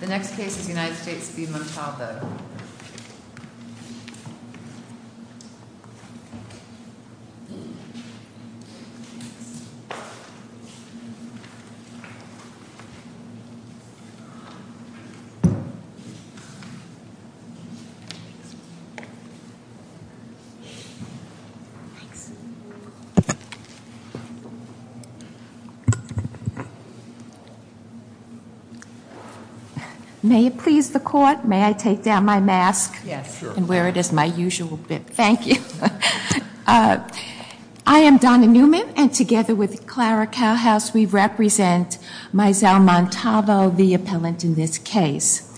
The next case is United States v. Montalvo. May it please the court, may I take down my mask? Yes, sure. And wear it as my usual bit, thank you. I am Donna Newman, and together with Clara Cowhouse we represent Maizel Montalvo, the appellant in this case.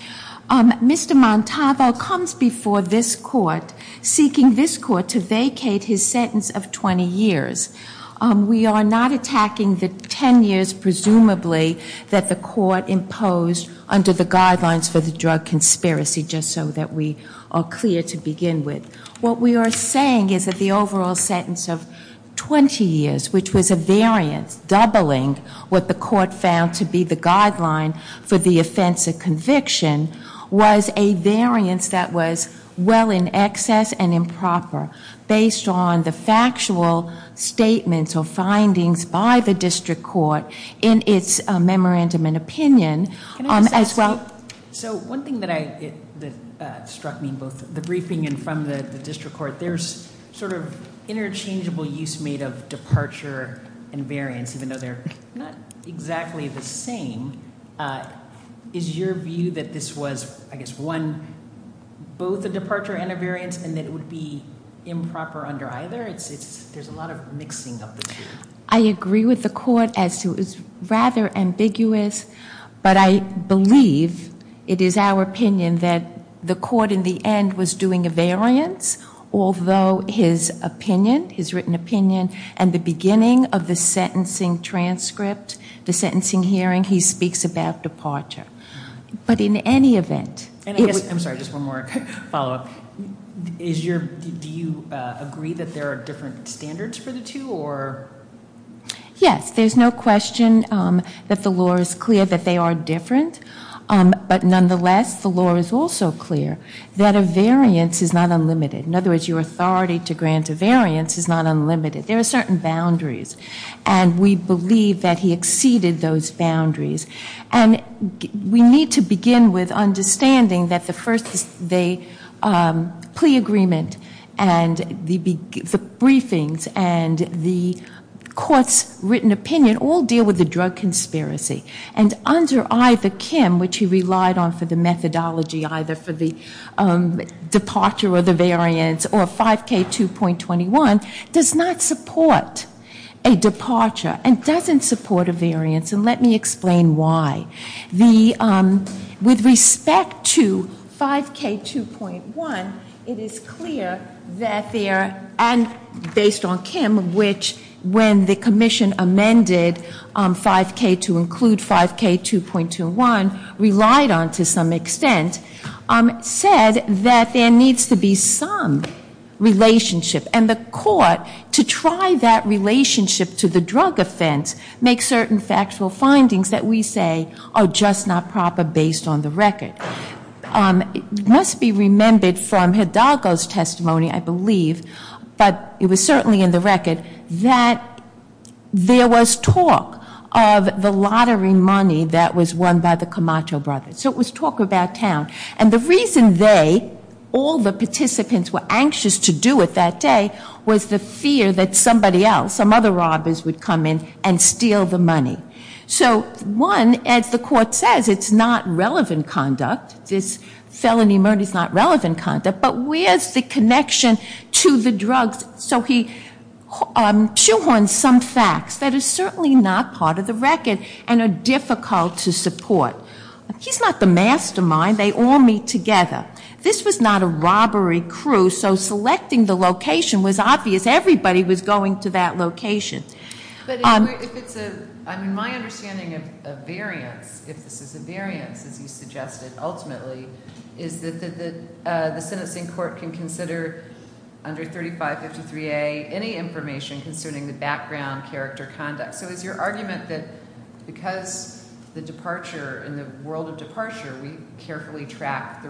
Mr. Montalvo comes before this court seeking this court to vacate his sentence of 20 years. We are not attacking the 10 years presumably that the court imposed under the guidelines for the drug conspiracy, just so that we are clear to begin with. What we are saying is that the overall sentence of 20 years, which was a variance doubling what the court found to be the guideline for the offense of conviction, was a variance that was well in excess and improper based on the factual statements or findings by the district court in its memorandum and opinion. Can I just ask you, so one thing that struck me in both the briefing and from the district court, there's sort of interchangeable use made of departure and variance, even though they're not exactly the same. Is your view that this was, I guess, one, both a departure and a variance, and that it would be improper under either? There's a lot of mixing of the two. I agree with the court as to it's rather ambiguous, but I believe it is our opinion that the court in the end was doing a variance, although his opinion, his written opinion, and the beginning of the sentencing transcript, the sentencing hearing, he speaks about departure. But in any event... I'm sorry, just one more follow-up. Do you agree that there are different standards for the two? Yes, there's no question that the law is clear that they are different, but nonetheless the law is also clear that a variance is not unlimited. In other words, your authority to grant a variance is not unlimited. There are certain boundaries, and we believe that he exceeded those boundaries. And we need to begin with understanding that the plea agreement and the briefings and the court's written opinion all deal with the drug conspiracy. And under either, Kim, which he relied on for the methodology, either for the departure or the variance, or 5K2.21, does not support a departure and doesn't support a variance. And let me explain why. With respect to 5K2.1, it is clear that there, and based on Kim, which, when the commission amended 5K to include 5K2.21, relied on to some extent, said that there needs to be some relationship. And the court, to try that relationship to the drug offense, makes certain factual findings that we say are just not proper based on the record. It must be remembered from Hidalgo's testimony, I believe, but it was certainly in the record, that there was talk of the lottery money that was won by the Camacho brothers. So it was talk about town. And the reason they, all the participants, were anxious to do it that day was the fear that somebody else, some other robbers, would come in and steal the money. So, one, as the court says, it's not relevant conduct. This felony murder is not relevant conduct. But where's the connection to the drugs? So he shoehorns some facts that are certainly not part of the record and are difficult to support. He's not the mastermind. They all meet together. This was not a robbery crew, so selecting the location was obvious. Everybody was going to that location. But if it's a, I mean, my understanding of variance, if this is a variance, as you suggested, ultimately, is that the sentencing court can consider under 3553A any information concerning the background, character, conduct. So is your argument that because the departure, in the world of departure, we carefully track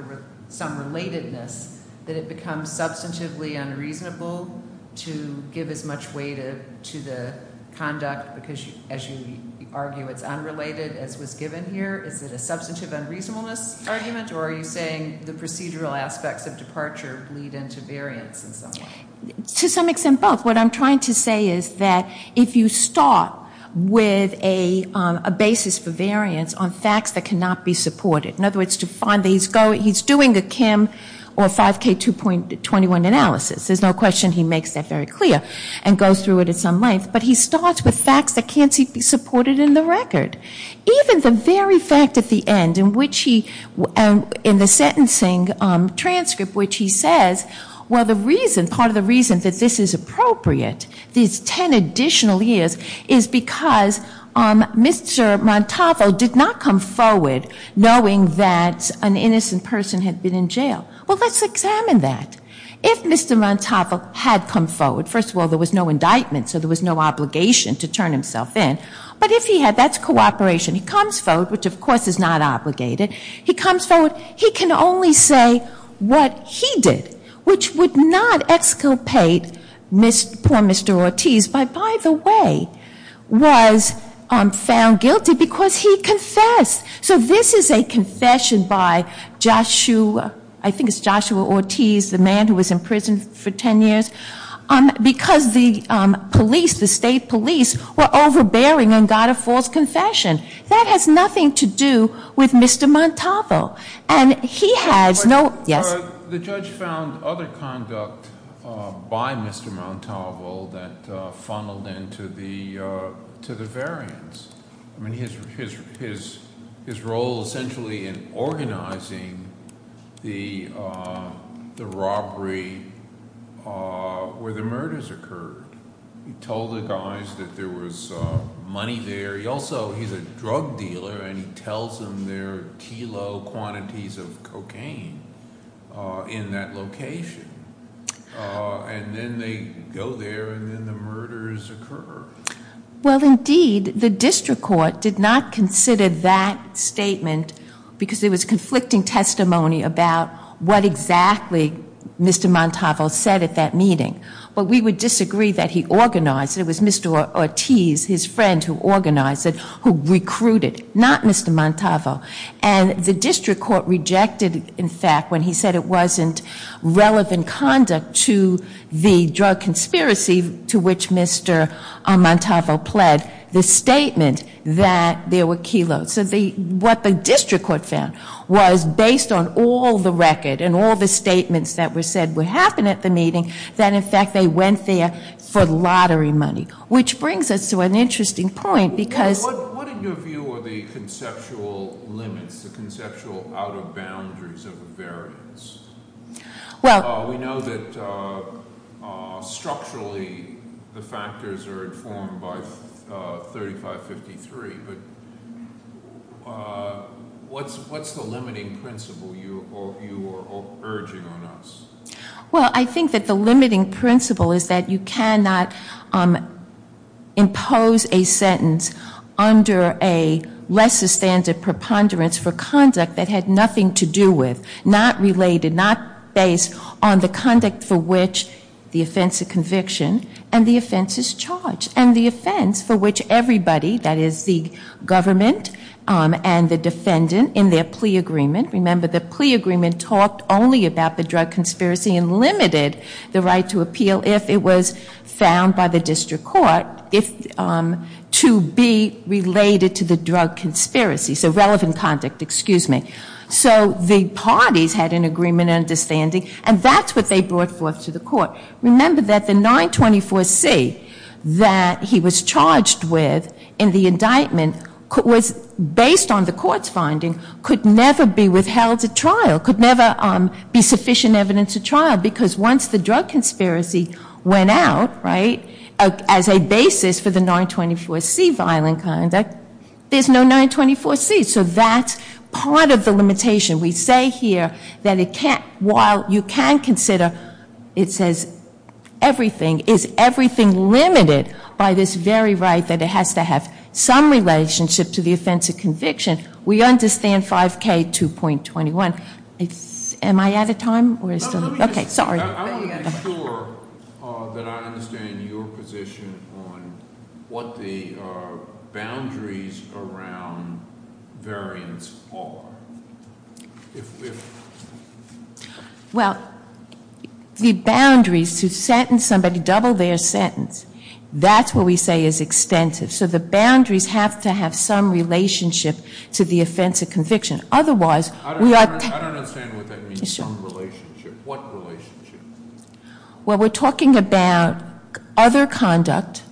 some relatedness, that it becomes substantively unreasonable to give as much weight to the conduct because, as you argue, it's unrelated, as was given here? Is it a substantive unreasonableness argument, or are you saying the procedural aspects of departure bleed into variance in some way? To some extent, both. What I'm trying to say is that if you start with a basis for variance on facts that cannot be supported, in other words, to find that he's doing a Kim or 5K 2.21 analysis, there's no question he makes that very clear and goes through it at some length, but he starts with facts that can't be supported in the record. Even the very fact at the end in which he, in the sentencing transcript, which he says, well, the reason, part of the reason that this is appropriate, these 10 additional years, is because Mr. Montalvo did not come forward knowing that an innocent person had been in jail. Well, let's examine that. If Mr. Montalvo had come forward, first of all, there was no indictment, so there was no obligation to turn himself in. But if he had, that's cooperation. He comes forward, which of course is not obligated. He comes forward. He can only say what he did, which would not exculpate poor Mr. Ortiz, who, by the way, was found guilty because he confessed. So this is a confession by Joshua, I think it's Joshua Ortiz, the man who was in prison for 10 years, because the police, the state police, were overbearing and got a false confession. That has nothing to do with Mr. Montalvo. And he has no, yes? The judge found other conduct by Mr. Montalvo that funneled into the variance. I mean, his role essentially in organizing the robbery where the murders occurred. He told the guys that there was money there. He also, he's a drug dealer and he tells them there are kilo quantities of cocaine in that location. And then they go there and then the murders occur. Well, indeed, the district court did not consider that statement because it was conflicting testimony about what exactly Mr. Montalvo said at that meeting. But we would disagree that he organized it. It was Mr. Ortiz, his friend, who organized it, who recruited, not Mr. Montalvo. And the district court rejected, in fact, when he said it wasn't relevant conduct to the drug conspiracy to which Mr. Montalvo pled, the statement that there were kilos. So what the district court found was based on all the record and all the statements that were said would happen at the meeting, that in fact they went there for lottery money. Which brings us to an interesting point because- What is your view of the conceptual limits, the conceptual out of boundaries of the variance? Well- We know that structurally the factors are informed by 3553. But what's the limiting principle you are urging on us? Well, I think that the limiting principle is that you cannot impose a sentence under a lesser standard preponderance for conduct that had nothing to do with, not related, not based on the conduct for which the offense of conviction and the offense is charged. And the offense for which everybody, that is the government and the defendant in their plea agreement, remember the plea agreement talked only about the drug conspiracy and limited the right to appeal if it was found by the district court to be related to the drug conspiracy. So relevant conduct, excuse me. So the parties had an agreement and understanding and that's what they brought forth to the court. Remember that the 924C that he was charged with in the indictment was based on the court's finding, could never be withheld at trial, could never be sufficient evidence at trial because once the drug conspiracy went out, right, as a basis for the 924C violent conduct, there's no 924C. So that's part of the limitation. We say here that it can't, while you can consider, it says everything. Is everything limited by this very right that it has to have some relationship to the offense of conviction? We understand 5K 2.21. Am I out of time? Okay, sorry. I want to be sure that I understand your position on what the boundaries around variance are. Well, the boundaries to sentence somebody, double their sentence, that's what we say is extensive. So the boundaries have to have some relationship to the offense of conviction. Otherwise, we are- I don't understand what that means. Some relationship. What relationship? Well, we're talking about other conduct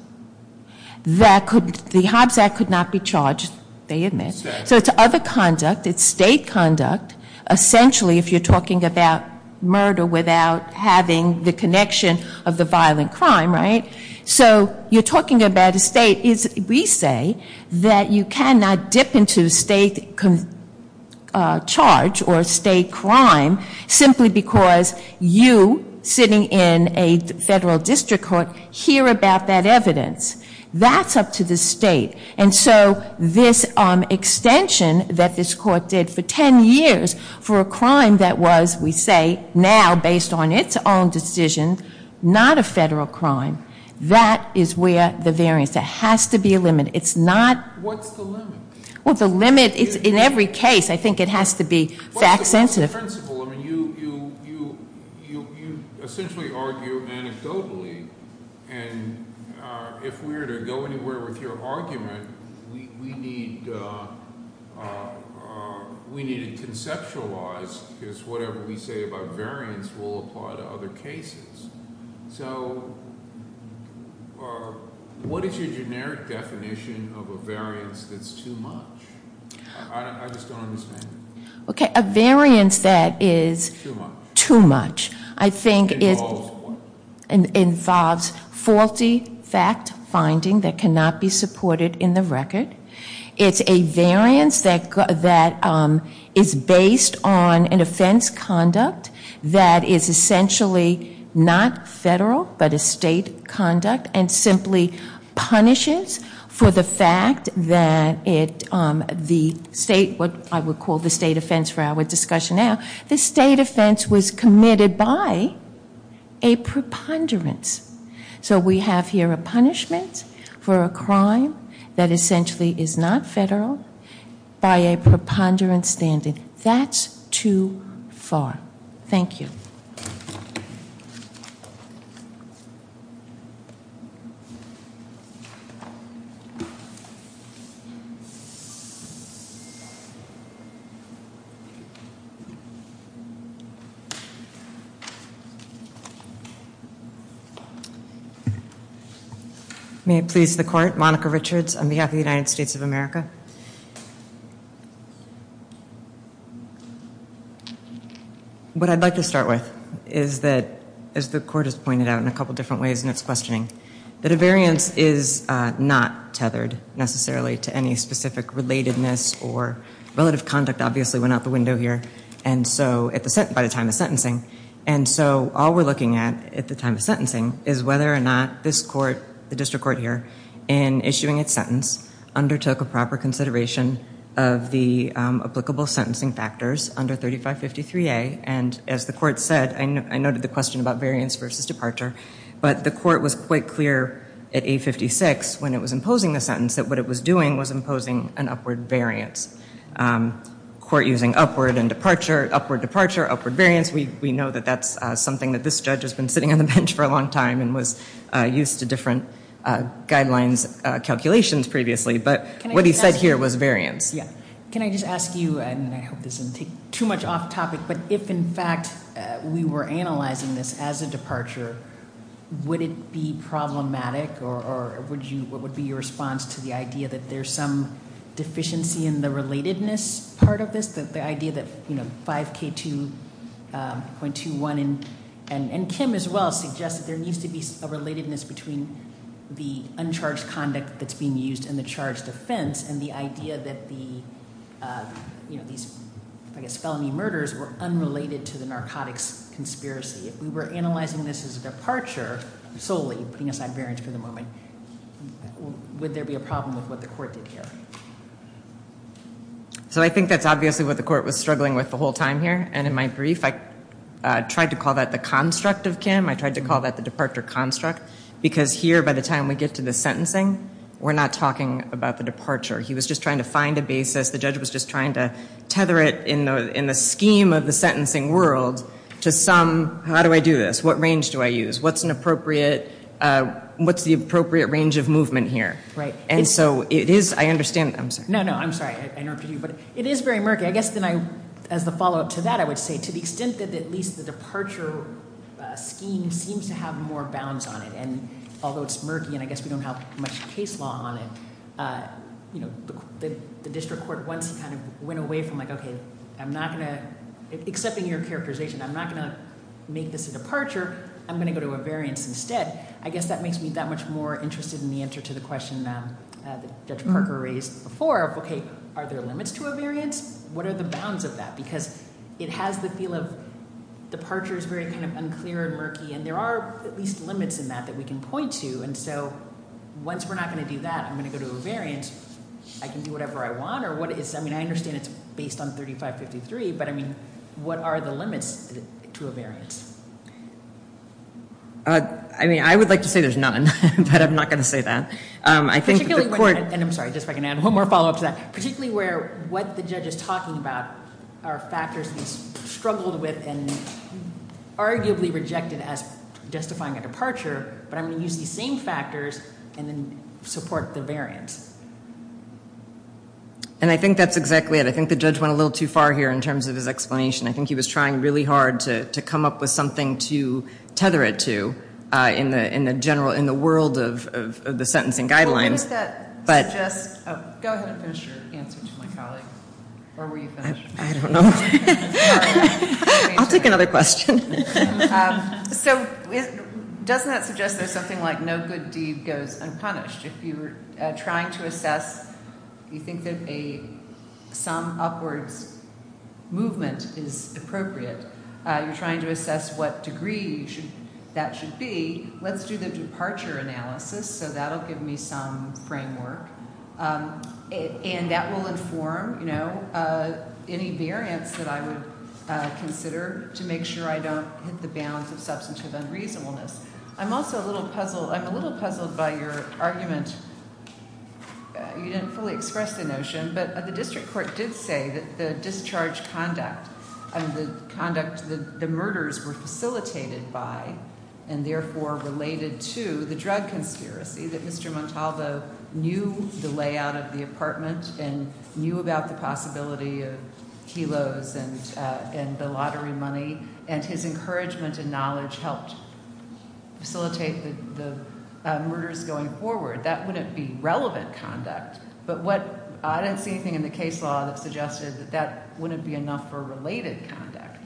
that the Hobbs Act could not be charged. They admit. So it's other conduct. It's state conduct. Essentially, if you're talking about murder without having the connection of the violent crime, right? So you're talking about a state. We say that you cannot dip into state charge or state crime simply because you, sitting in a federal district court, hear about that evidence. That's up to the state. And so this extension that this court did for ten years for a crime that was, we say, now, based on its own decision, not a federal crime, that is where the variance. There has to be a limit. It's not- What's the limit? Well, the limit is in every case. I think it has to be fact sensitive. What's the principle? I mean, you essentially argue anecdotally. And if we were to go anywhere with your argument, we need to conceptualize because whatever we say about variance will apply to other cases. So what is your generic definition of a variance that's too much? I just don't understand it. Okay, a variance that is- Too much. Too much. I think it- Involves what? Involves faulty fact finding that cannot be supported in the record. It's a variance that is based on an offense conduct that is essentially not federal, but a state conduct and simply punishes for the fact that the state, what I would call the state offense for our discussion now, the state offense was committed by a preponderance. So we have here a punishment for a crime that essentially is not federal by a preponderance standard. That's too far. Thank you. May it please the court, Monica Richards on behalf of the United States of America. What I'd like to start with is that, as the court has pointed out in a couple different ways in its questioning, that a variance is not tethered necessarily to any specific relatedness or relative conduct obviously went out the window here by the time of sentencing. And so all we're looking at at the time of sentencing is whether or not this court, the district court here, in issuing its sentence undertook a proper consideration of the applicable sentencing factors under 3553A. And as the court said, I noted the question about variance versus departure, but the court was quite clear at 856 when it was imposing the sentence that what it was doing was imposing an upward variance. Court using upward and departure, upward departure, upward variance, we know that that's something that this judge has been sitting on the bench for a long time and was used to different guidelines calculations previously, but what he said here was variance. Can I just ask you, and I hope this doesn't take too much off topic, but if in fact we were analyzing this as a departure, would it be problematic or what would be your response to the idea that there's some deficiency in the relatedness part of this? The idea that 5K2.21 and Kim as well suggested there needs to be a relatedness between the uncharged conduct that's being used and the charged offense and the idea that these, I guess, felony murders were unrelated to the narcotics conspiracy. If we were analyzing this as a departure solely, putting aside variance for the moment, would there be a problem with what the court did here? So I think that's obviously what the court was struggling with the whole time here, and in my brief I tried to call that the construct of Kim. I tried to call that the departure construct because here by the time we get to the sentencing, we're not talking about the departure. He was just trying to find a basis. The judge was just trying to tether it in the scheme of the sentencing world to some, how do I do this? What range do I use? What's an appropriate, what's the appropriate range of movement here? Right. And so it is, I understand, I'm sorry. No, no, I'm sorry. I interrupted you, but it is very murky. I guess then I, as the follow-up to that, I would say to the extent that at least the departure scheme seems to have more bounds on it, and although it's murky and I guess we don't have much case law on it, the district court once kind of went away from like, okay, I'm not going to, except in your characterization, I'm not going to make this a departure. I'm going to go to a variance instead. I guess that makes me that much more interested in the answer to the question that Judge Parker raised before of, okay, are there limits to a variance? What are the bounds of that? Because it has the feel of departure is very kind of unclear and murky, and there are at least limits in that that we can point to, and so once we're not going to do that, I'm going to go to a variance. I can do whatever I want, or what is, I mean, I understand it's based on 3553, but I mean, what are the limits to a variance? I mean, I would like to say there's none, but I'm not going to say that. I think the court. And I'm sorry, just if I can add one more follow-up to that, particularly where what the judge is talking about are factors he's struggled with and arguably rejected as justifying a departure, but I'm going to use these same factors and then support the variance. And I think that's exactly it. I think the judge went a little too far here in terms of his explanation. I think he was trying really hard to come up with something to tether it to in the general, in the world of the sentencing guidelines. Well, what does that suggest? Go ahead and finish your answer to my colleague, or were you finished? I don't know. I'll take another question. So doesn't that suggest there's something like no good deed goes unpunished? If you were trying to assess, you think that a sum upwards movement is appropriate, you're trying to assess what degree that should be, let's do the departure analysis, so that will give me some framework. And that will inform, you know, any variance that I would consider to make sure I don't hit the bounds of substantive unreasonableness. I'm also a little puzzled. I'm a little puzzled by your argument. You didn't fully express the notion, but the district court did say that the discharge conduct and the conduct the murders were facilitated by and therefore related to the drug conspiracy that Mr. Montalvo knew the layout of the apartment and knew about the possibility of kilos and the lottery money and his encouragement and knowledge helped facilitate the murders going forward. That wouldn't be relevant conduct. But I didn't see anything in the case law that suggested that that wouldn't be enough for related conduct.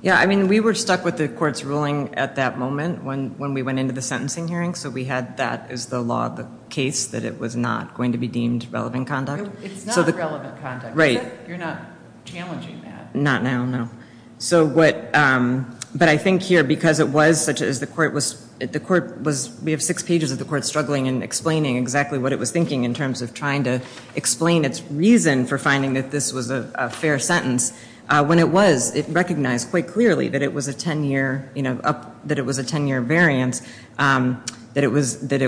Yeah, I mean, we were stuck with the court's ruling at that moment when we went into the sentencing hearing, so we had that as the law of the case, that it was not going to be deemed relevant conduct. It's not relevant conduct. Right. You're not challenging that. Not now, no. But I think here, because it was, such as the court was, we have six pages of the court struggling and explaining exactly what it was thinking in terms of trying to explain its reason for finding that this was a fair sentence. When it was, it recognized quite clearly that it was a 10-year, 10-year variance, that it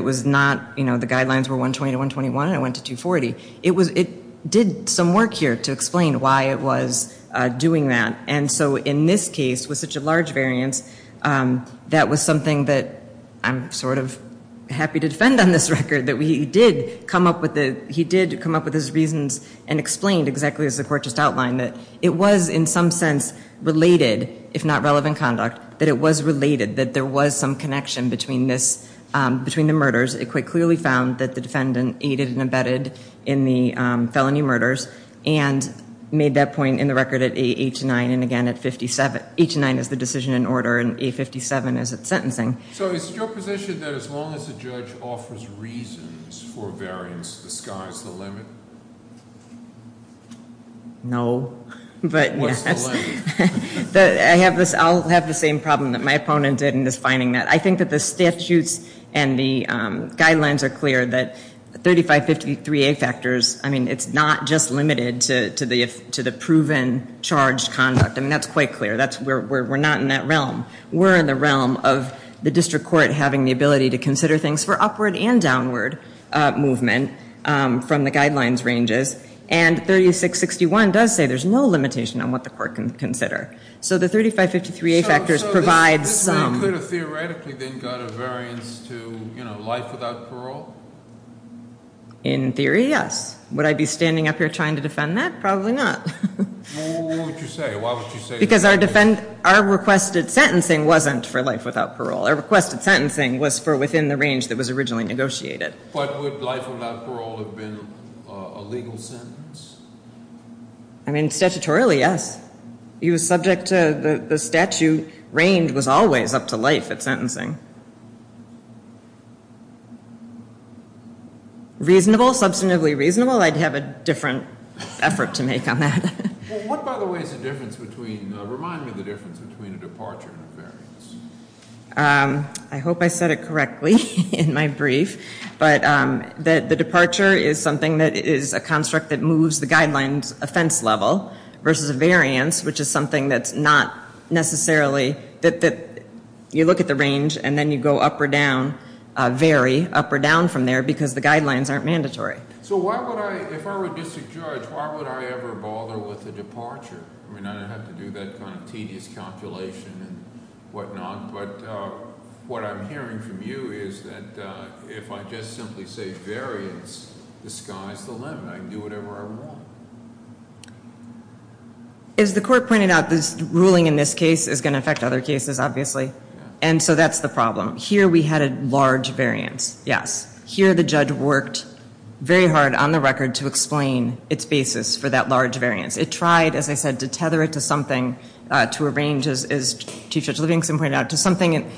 was not, you know, the guidelines were 120 to 121 and it went to 240. It did some work here to explain why it was doing that. And so in this case, with such a large variance, that was something that I'm sort of happy to defend on this record, that he did come up with his reasons and explained exactly as the court just outlined, that it was in some sense related, if not relevant conduct, that it was related, that there was some connection between the murders. It quite clearly found that the defendant aided and abetted in the felony murders and made that point in the record at 8 to 9 and again at 57. 8 to 9 is the decision in order and 8 to 57 is its sentencing. So is your position that as long as the judge offers reasons for variance, the sky's the limit? No, but yes. What's the limit? I'll have the same problem that my opponent did in defining that. I think that the statutes and the guidelines are clear that 3553A factors, I mean it's not just limited to the proven charged conduct. I mean that's quite clear. We're not in that realm. We're in the realm of the district court having the ability to consider things for upward and downward movement from the guidelines ranges and 3661 does say there's no limitation on what the court can consider. So the 3553A factors provides some. So this could have theoretically then got a variance to life without parole? In theory, yes. Would I be standing up here trying to defend that? Probably not. What would you say? Why would you say that? Because our requested sentencing wasn't for life without parole. Our requested sentencing was for within the range that was originally negotiated. But would life without parole have been a legal sentence? I mean, statutorily, yes. He was subject to the statute range was always up to life at sentencing. Reasonable, substantively reasonable, I'd have a different effort to make on that. What, by the way, is the difference between, I hope I said it correctly in my brief, but the departure is something that is a construct that moves the guidelines offense level versus a variance which is something that's not necessarily, that you look at the range and then you go up or down, vary up or down from there because the guidelines aren't mandatory. So why would I, if I were a district judge, why would I ever bother with the departure? I mean, I don't have to do that kind of tedious calculation and whatnot. But what I'm hearing from you is that if I just simply say variance, the sky's the limit. I can do whatever I want. As the court pointed out, this ruling in this case is going to affect other cases, obviously. And so that's the problem. Here we had a large variance, yes. Here the judge worked very hard on the record to explain its basis for that large variance. It tried, as I said, to tether it to something, to arrange, as Chief Judge Livingston pointed out, to something in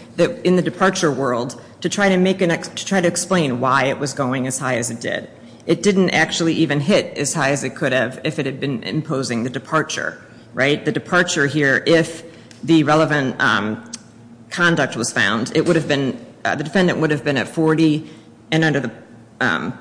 the departure world to try to explain why it was going as high as it did. It didn't actually even hit as high as it could have if it had been imposing the departure. The departure here, if the relevant conduct was found, it would have been, the defendant would have been at 40, and under the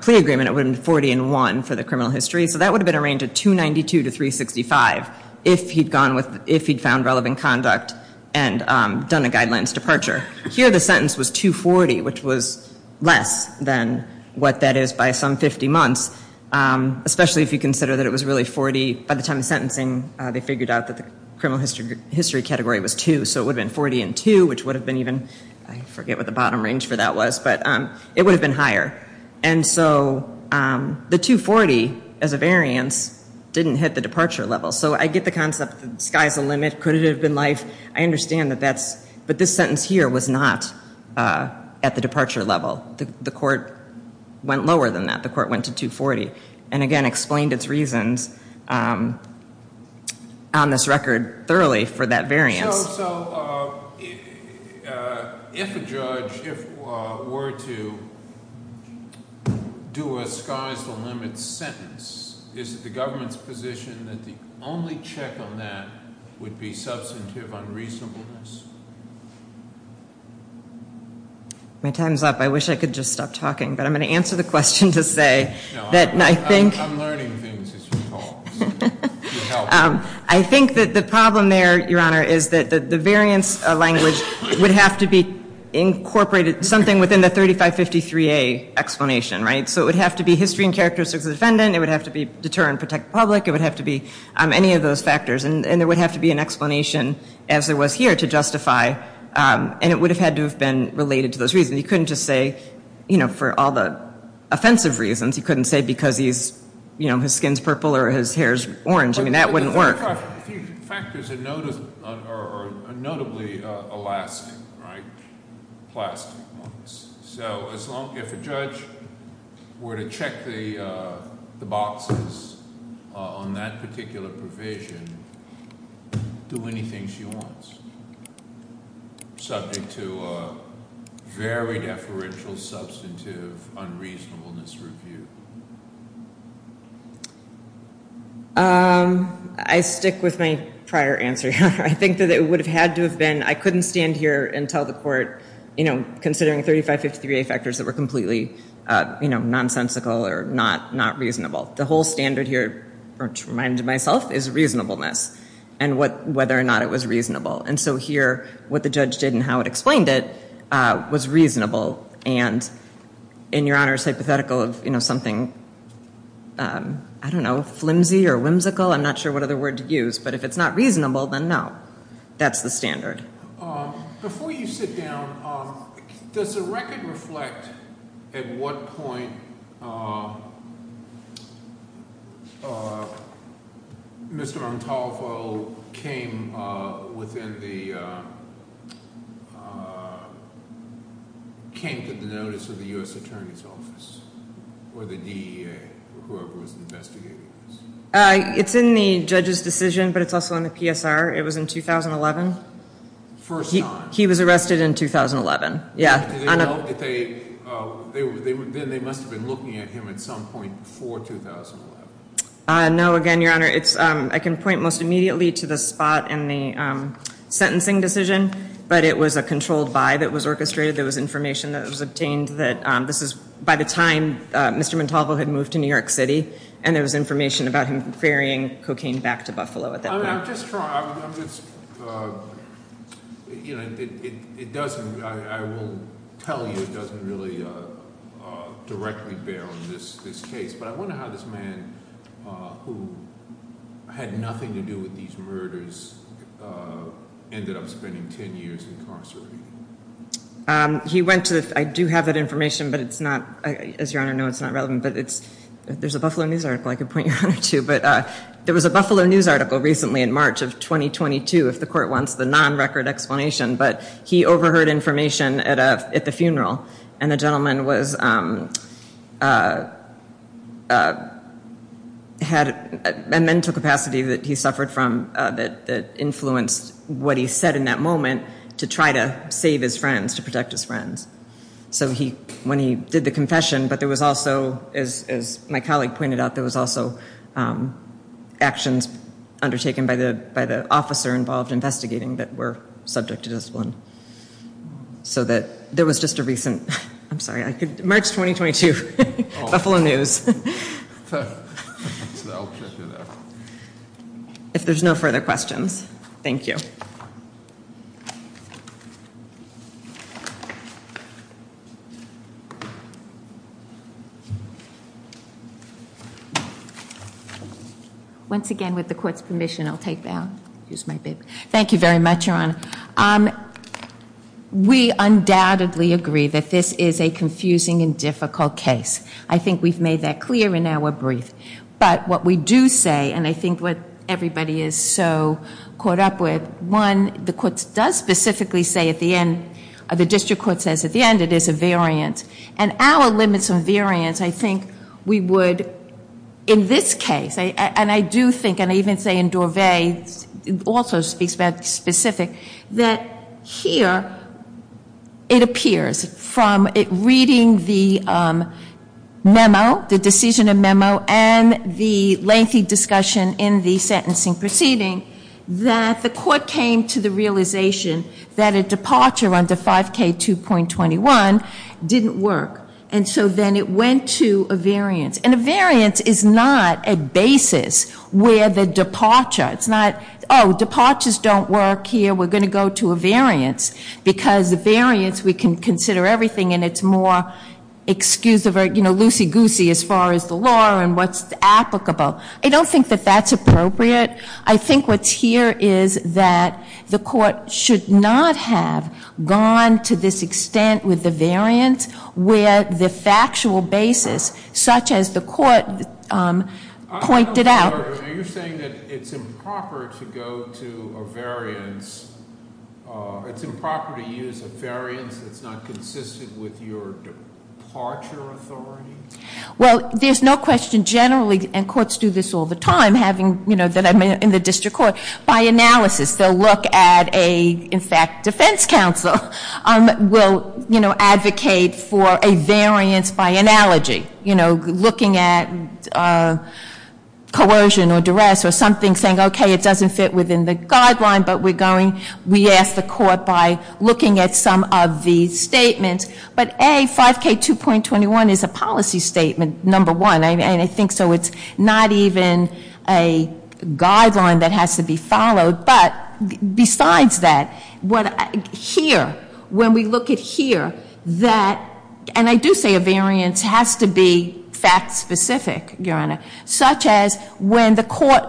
plea agreement it would have been 40 and 1 for the criminal history. So that would have been a range of 292 to 365 if he'd gone with, if he'd found relevant conduct and done a guidelines departure. Here the sentence was 240, which was less than what that is by some 50 months, especially if you consider that it was really 40, by the time of sentencing, they figured out that the criminal history category was 2. So it would have been 40 and 2, which would have been even, I forget what the bottom range for that was, but it would have been higher. And so the 240 as a variance didn't hit the departure level. So I get the concept that the sky's the limit, could it have been life? I understand that that's, but this sentence here was not at the departure level. The court went lower than that, the court went to 240, and again explained its reasons on this record thoroughly for that variance. So if a judge were to do a sky's the limit sentence, is it the government's position that the only check on that would be substantive unreasonableness? My time's up. I wish I could just stop talking, but I'm going to answer the question to say that I think. I'm learning things as you talk. I think that the problem there, Your Honor, is that the variance language would have to be incorporated, something within the 3553A explanation, right? So it would have to be history and characteristics of the defendant, it would have to be deter and protect the public, it would have to be any of those factors, and there would have to be an explanation as there was here to justify, and it would have had to have been related to those reasons. You couldn't just say, you know, for all the offensive reasons, you couldn't say because he's, you know, his skin's purple or his hair's orange. I mean, that wouldn't work. Factors are notably Alaskan, right, plastic ones. So as long as a judge were to check the boxes on that particular provision, do anything she wants, subject to a very deferential, substantive, unreasonableness review. I stick with my prior answer, Your Honor. I think that it would have had to have been, I couldn't stand here and tell the court, you know, considering 3553A factors that were completely, you know, nonsensical or not reasonable. The whole standard here, which reminded myself, is reasonableness and whether or not it was reasonable. And so here, what the judge did and how it explained it was reasonable, and in Your Honor's hypothetical of, you know, something, I don't know, flimsy or whimsical, I'm not sure what other word to use, but if it's not reasonable, then no. That's the standard. Before you sit down, does the record reflect at what point Mr. Montalvo came to the notice of the U.S. Attorney's Office or the DEA or whoever was investigating this? It's in the judge's decision, but it's also in the PSR. It was in 2011. First time. He was arrested in 2011. Yeah. Then they must have been looking at him at some point before 2011. No. Again, Your Honor, I can point most immediately to the spot in the sentencing decision, but it was a controlled buy that was orchestrated. There was information that was obtained that this is by the time Mr. Montalvo had moved to New York City, and there was information about him ferrying cocaine back to Buffalo at that point. I'm just trying – it doesn't – I will tell you it doesn't really directly bear on this case, but I wonder how this man, who had nothing to do with these murders, ended up spending ten years incarcerated. He went to – I do have that information, but it's not – as Your Honor knows, it's not relevant, but it's – there's a Buffalo News article I could point you to, but there was a Buffalo News article recently in March of 2022, if the court wants the non-record explanation, but he overheard information at the funeral, and the gentleman was – had a mental capacity that he suffered from that influenced what he said in that moment to try to save his friends, to protect his friends. So when he did the confession, but there was also, as my colleague pointed out, there was also actions undertaken by the officer involved investigating that were subject to discipline. So that – there was just a recent – I'm sorry, March 2022, Buffalo News. So I'll check it out. If there's no further questions, thank you. Once again, with the court's permission, I'll take that. Thank you very much, Your Honor. We undoubtedly agree that this is a confusing and difficult case. I think we've made that clear in our brief. But what we do say, and I think what everybody is so caught up with, one, the court does specifically say at the end – the district court says at the end it is a variant. And our limits on variants, I think we would, in this case – and I do think, and I even say in Dorvay, also speaks about specific, that here it appears from reading the memo, the decision of memo, and the lengthy discussion in the sentencing proceeding, that the court came to the realization that a departure under 5K2.21 didn't work. And so then it went to a variance. And a variance is not a basis where the departure – it's not, oh, departures don't work here, we're going to go to a variance. Because the variance, we can consider everything and it's more, excuse the word, you know, loosey-goosey as far as the law and what's applicable. I don't think that that's appropriate. I think what's here is that the court should not have gone to this extent with the variance where the factual basis, such as the court pointed out – Are you saying that it's improper to go to a variance, it's improper to use a variance that's not consistent with your departure authority? Well, there's no question generally, and courts do this all the time, having, you know, that I'm in the district court, by analysis. They'll look at a, in fact, defense counsel will, you know, advocate for a variance by analogy. You know, looking at coercion or duress or something, saying, okay, it doesn't fit within the guideline, but we're going – we ask the court by looking at some of the statements. But A, 5K2.21 is a policy statement, number one. And I think so it's not even a guideline that has to be followed. But besides that, here, when we look at here, that – it has to be fact-specific, Your Honor. Such as when the court,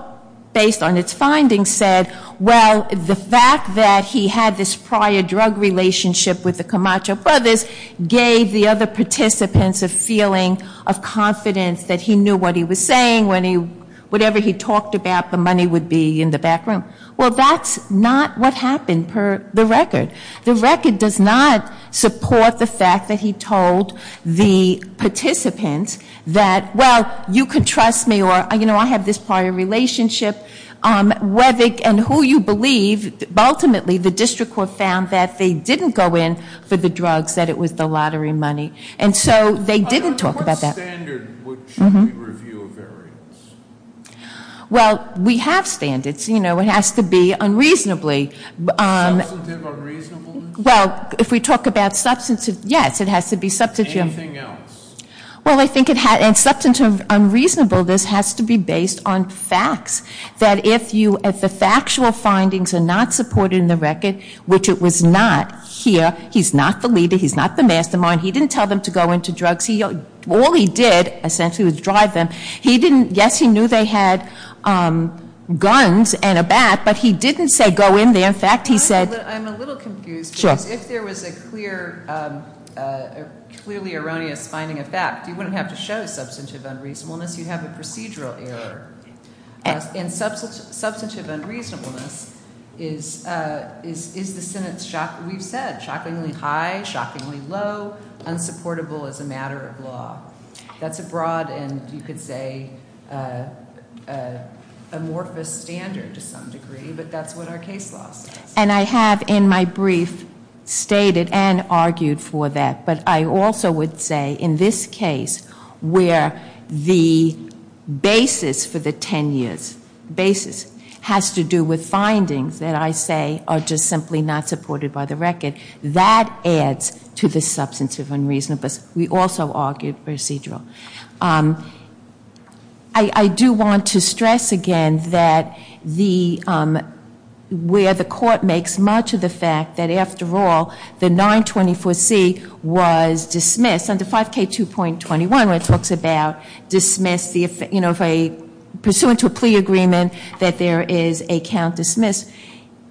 based on its findings, said, well, the fact that he had this prior drug relationship with the Camacho brothers gave the other participants a feeling of confidence that he knew what he was saying when he – whatever he talked about, the money would be in the back room. Well, that's not what happened per the record. The record does not support the fact that he told the participants that, well, you can trust me or, you know, I have this prior relationship, whether – and who you believe. Ultimately, the district court found that they didn't go in for the drugs, that it was the lottery money. And so they didn't talk about that. What standard should we review a variance? Well, we have standards. You know, it has to be unreasonably – Substantive unreasonableness? Well, if we talk about substantive – yes, it has to be substantive. Anything else? Well, I think it – and substantive unreasonableness has to be based on facts. That if you – if the factual findings are not supported in the record, which it was not here – he's not the leader, he's not the mastermind, he didn't tell them to go into drugs. All he did, essentially, was drive them. He didn't – yes, he knew they had guns and a bat, but he didn't say go in there. In fact, he said – I'm a little confused because if there was a clear – clearly erroneous finding of fact, you wouldn't have to show substantive unreasonableness. You'd have a procedural error. And substantive unreasonableness is the sentence we've said, shockingly high, shockingly low, unsupportable as a matter of law. That's a broad and, you could say, amorphous standard to some degree, but that's what our case law says. And I have, in my brief, stated and argued for that. But I also would say, in this case, where the basis for the 10 years – basis has to do with findings that I say are just simply not supported by the record, that adds to the substantive unreasonableness. We also argued procedural. I do want to stress again that the – where the court makes much of the fact that, after all, the 924C was dismissed. Under 5K2.21, where it talks about dismiss the – you know, if a – pursuant to a plea agreement, that there is a count dismissed.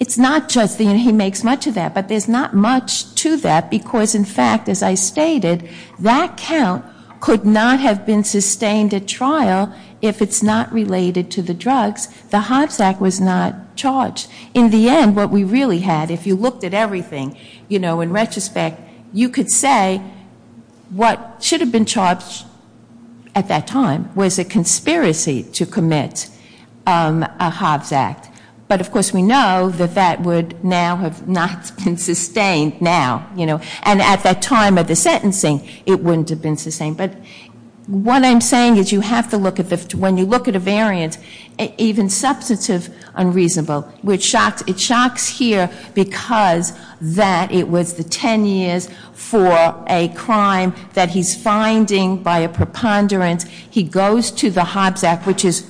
It's not just that he makes much of that, but there's not much to that because, in fact, as I stated, that count could not have been sustained at trial if it's not related to the drugs. The Hobbs Act was not charged. In the end, what we really had, if you looked at everything, you know, in retrospect, you could say what should have been charged at that time was a conspiracy to commit a Hobbs Act. But, of course, we know that that would now have not been sustained now, you know. And at that time of the sentencing, it wouldn't have been sustained. But what I'm saying is you have to look at the – when you look at a variant, even substantive unreasonable, which shocks – it shocks here because that it was the 10 years for a crime that he's finding by a preponderance. He goes to the Hobbs Act, which is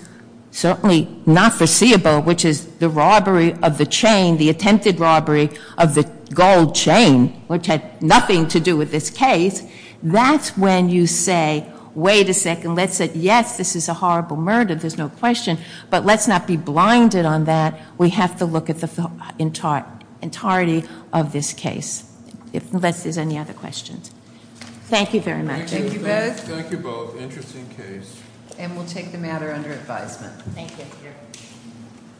certainly not foreseeable, which is the robbery of the chain, the attempted robbery of the gold chain, which had nothing to do with this case. That's when you say, wait a second, let's say, yes, this is a horrible murder, there's no question, but let's not be blinded on that. We have to look at the entirety of this case, unless there's any other questions. Thank you very much. Thank you both. Thank you both. Interesting case. And we'll take the matter under advisement. Thank you. Thank you.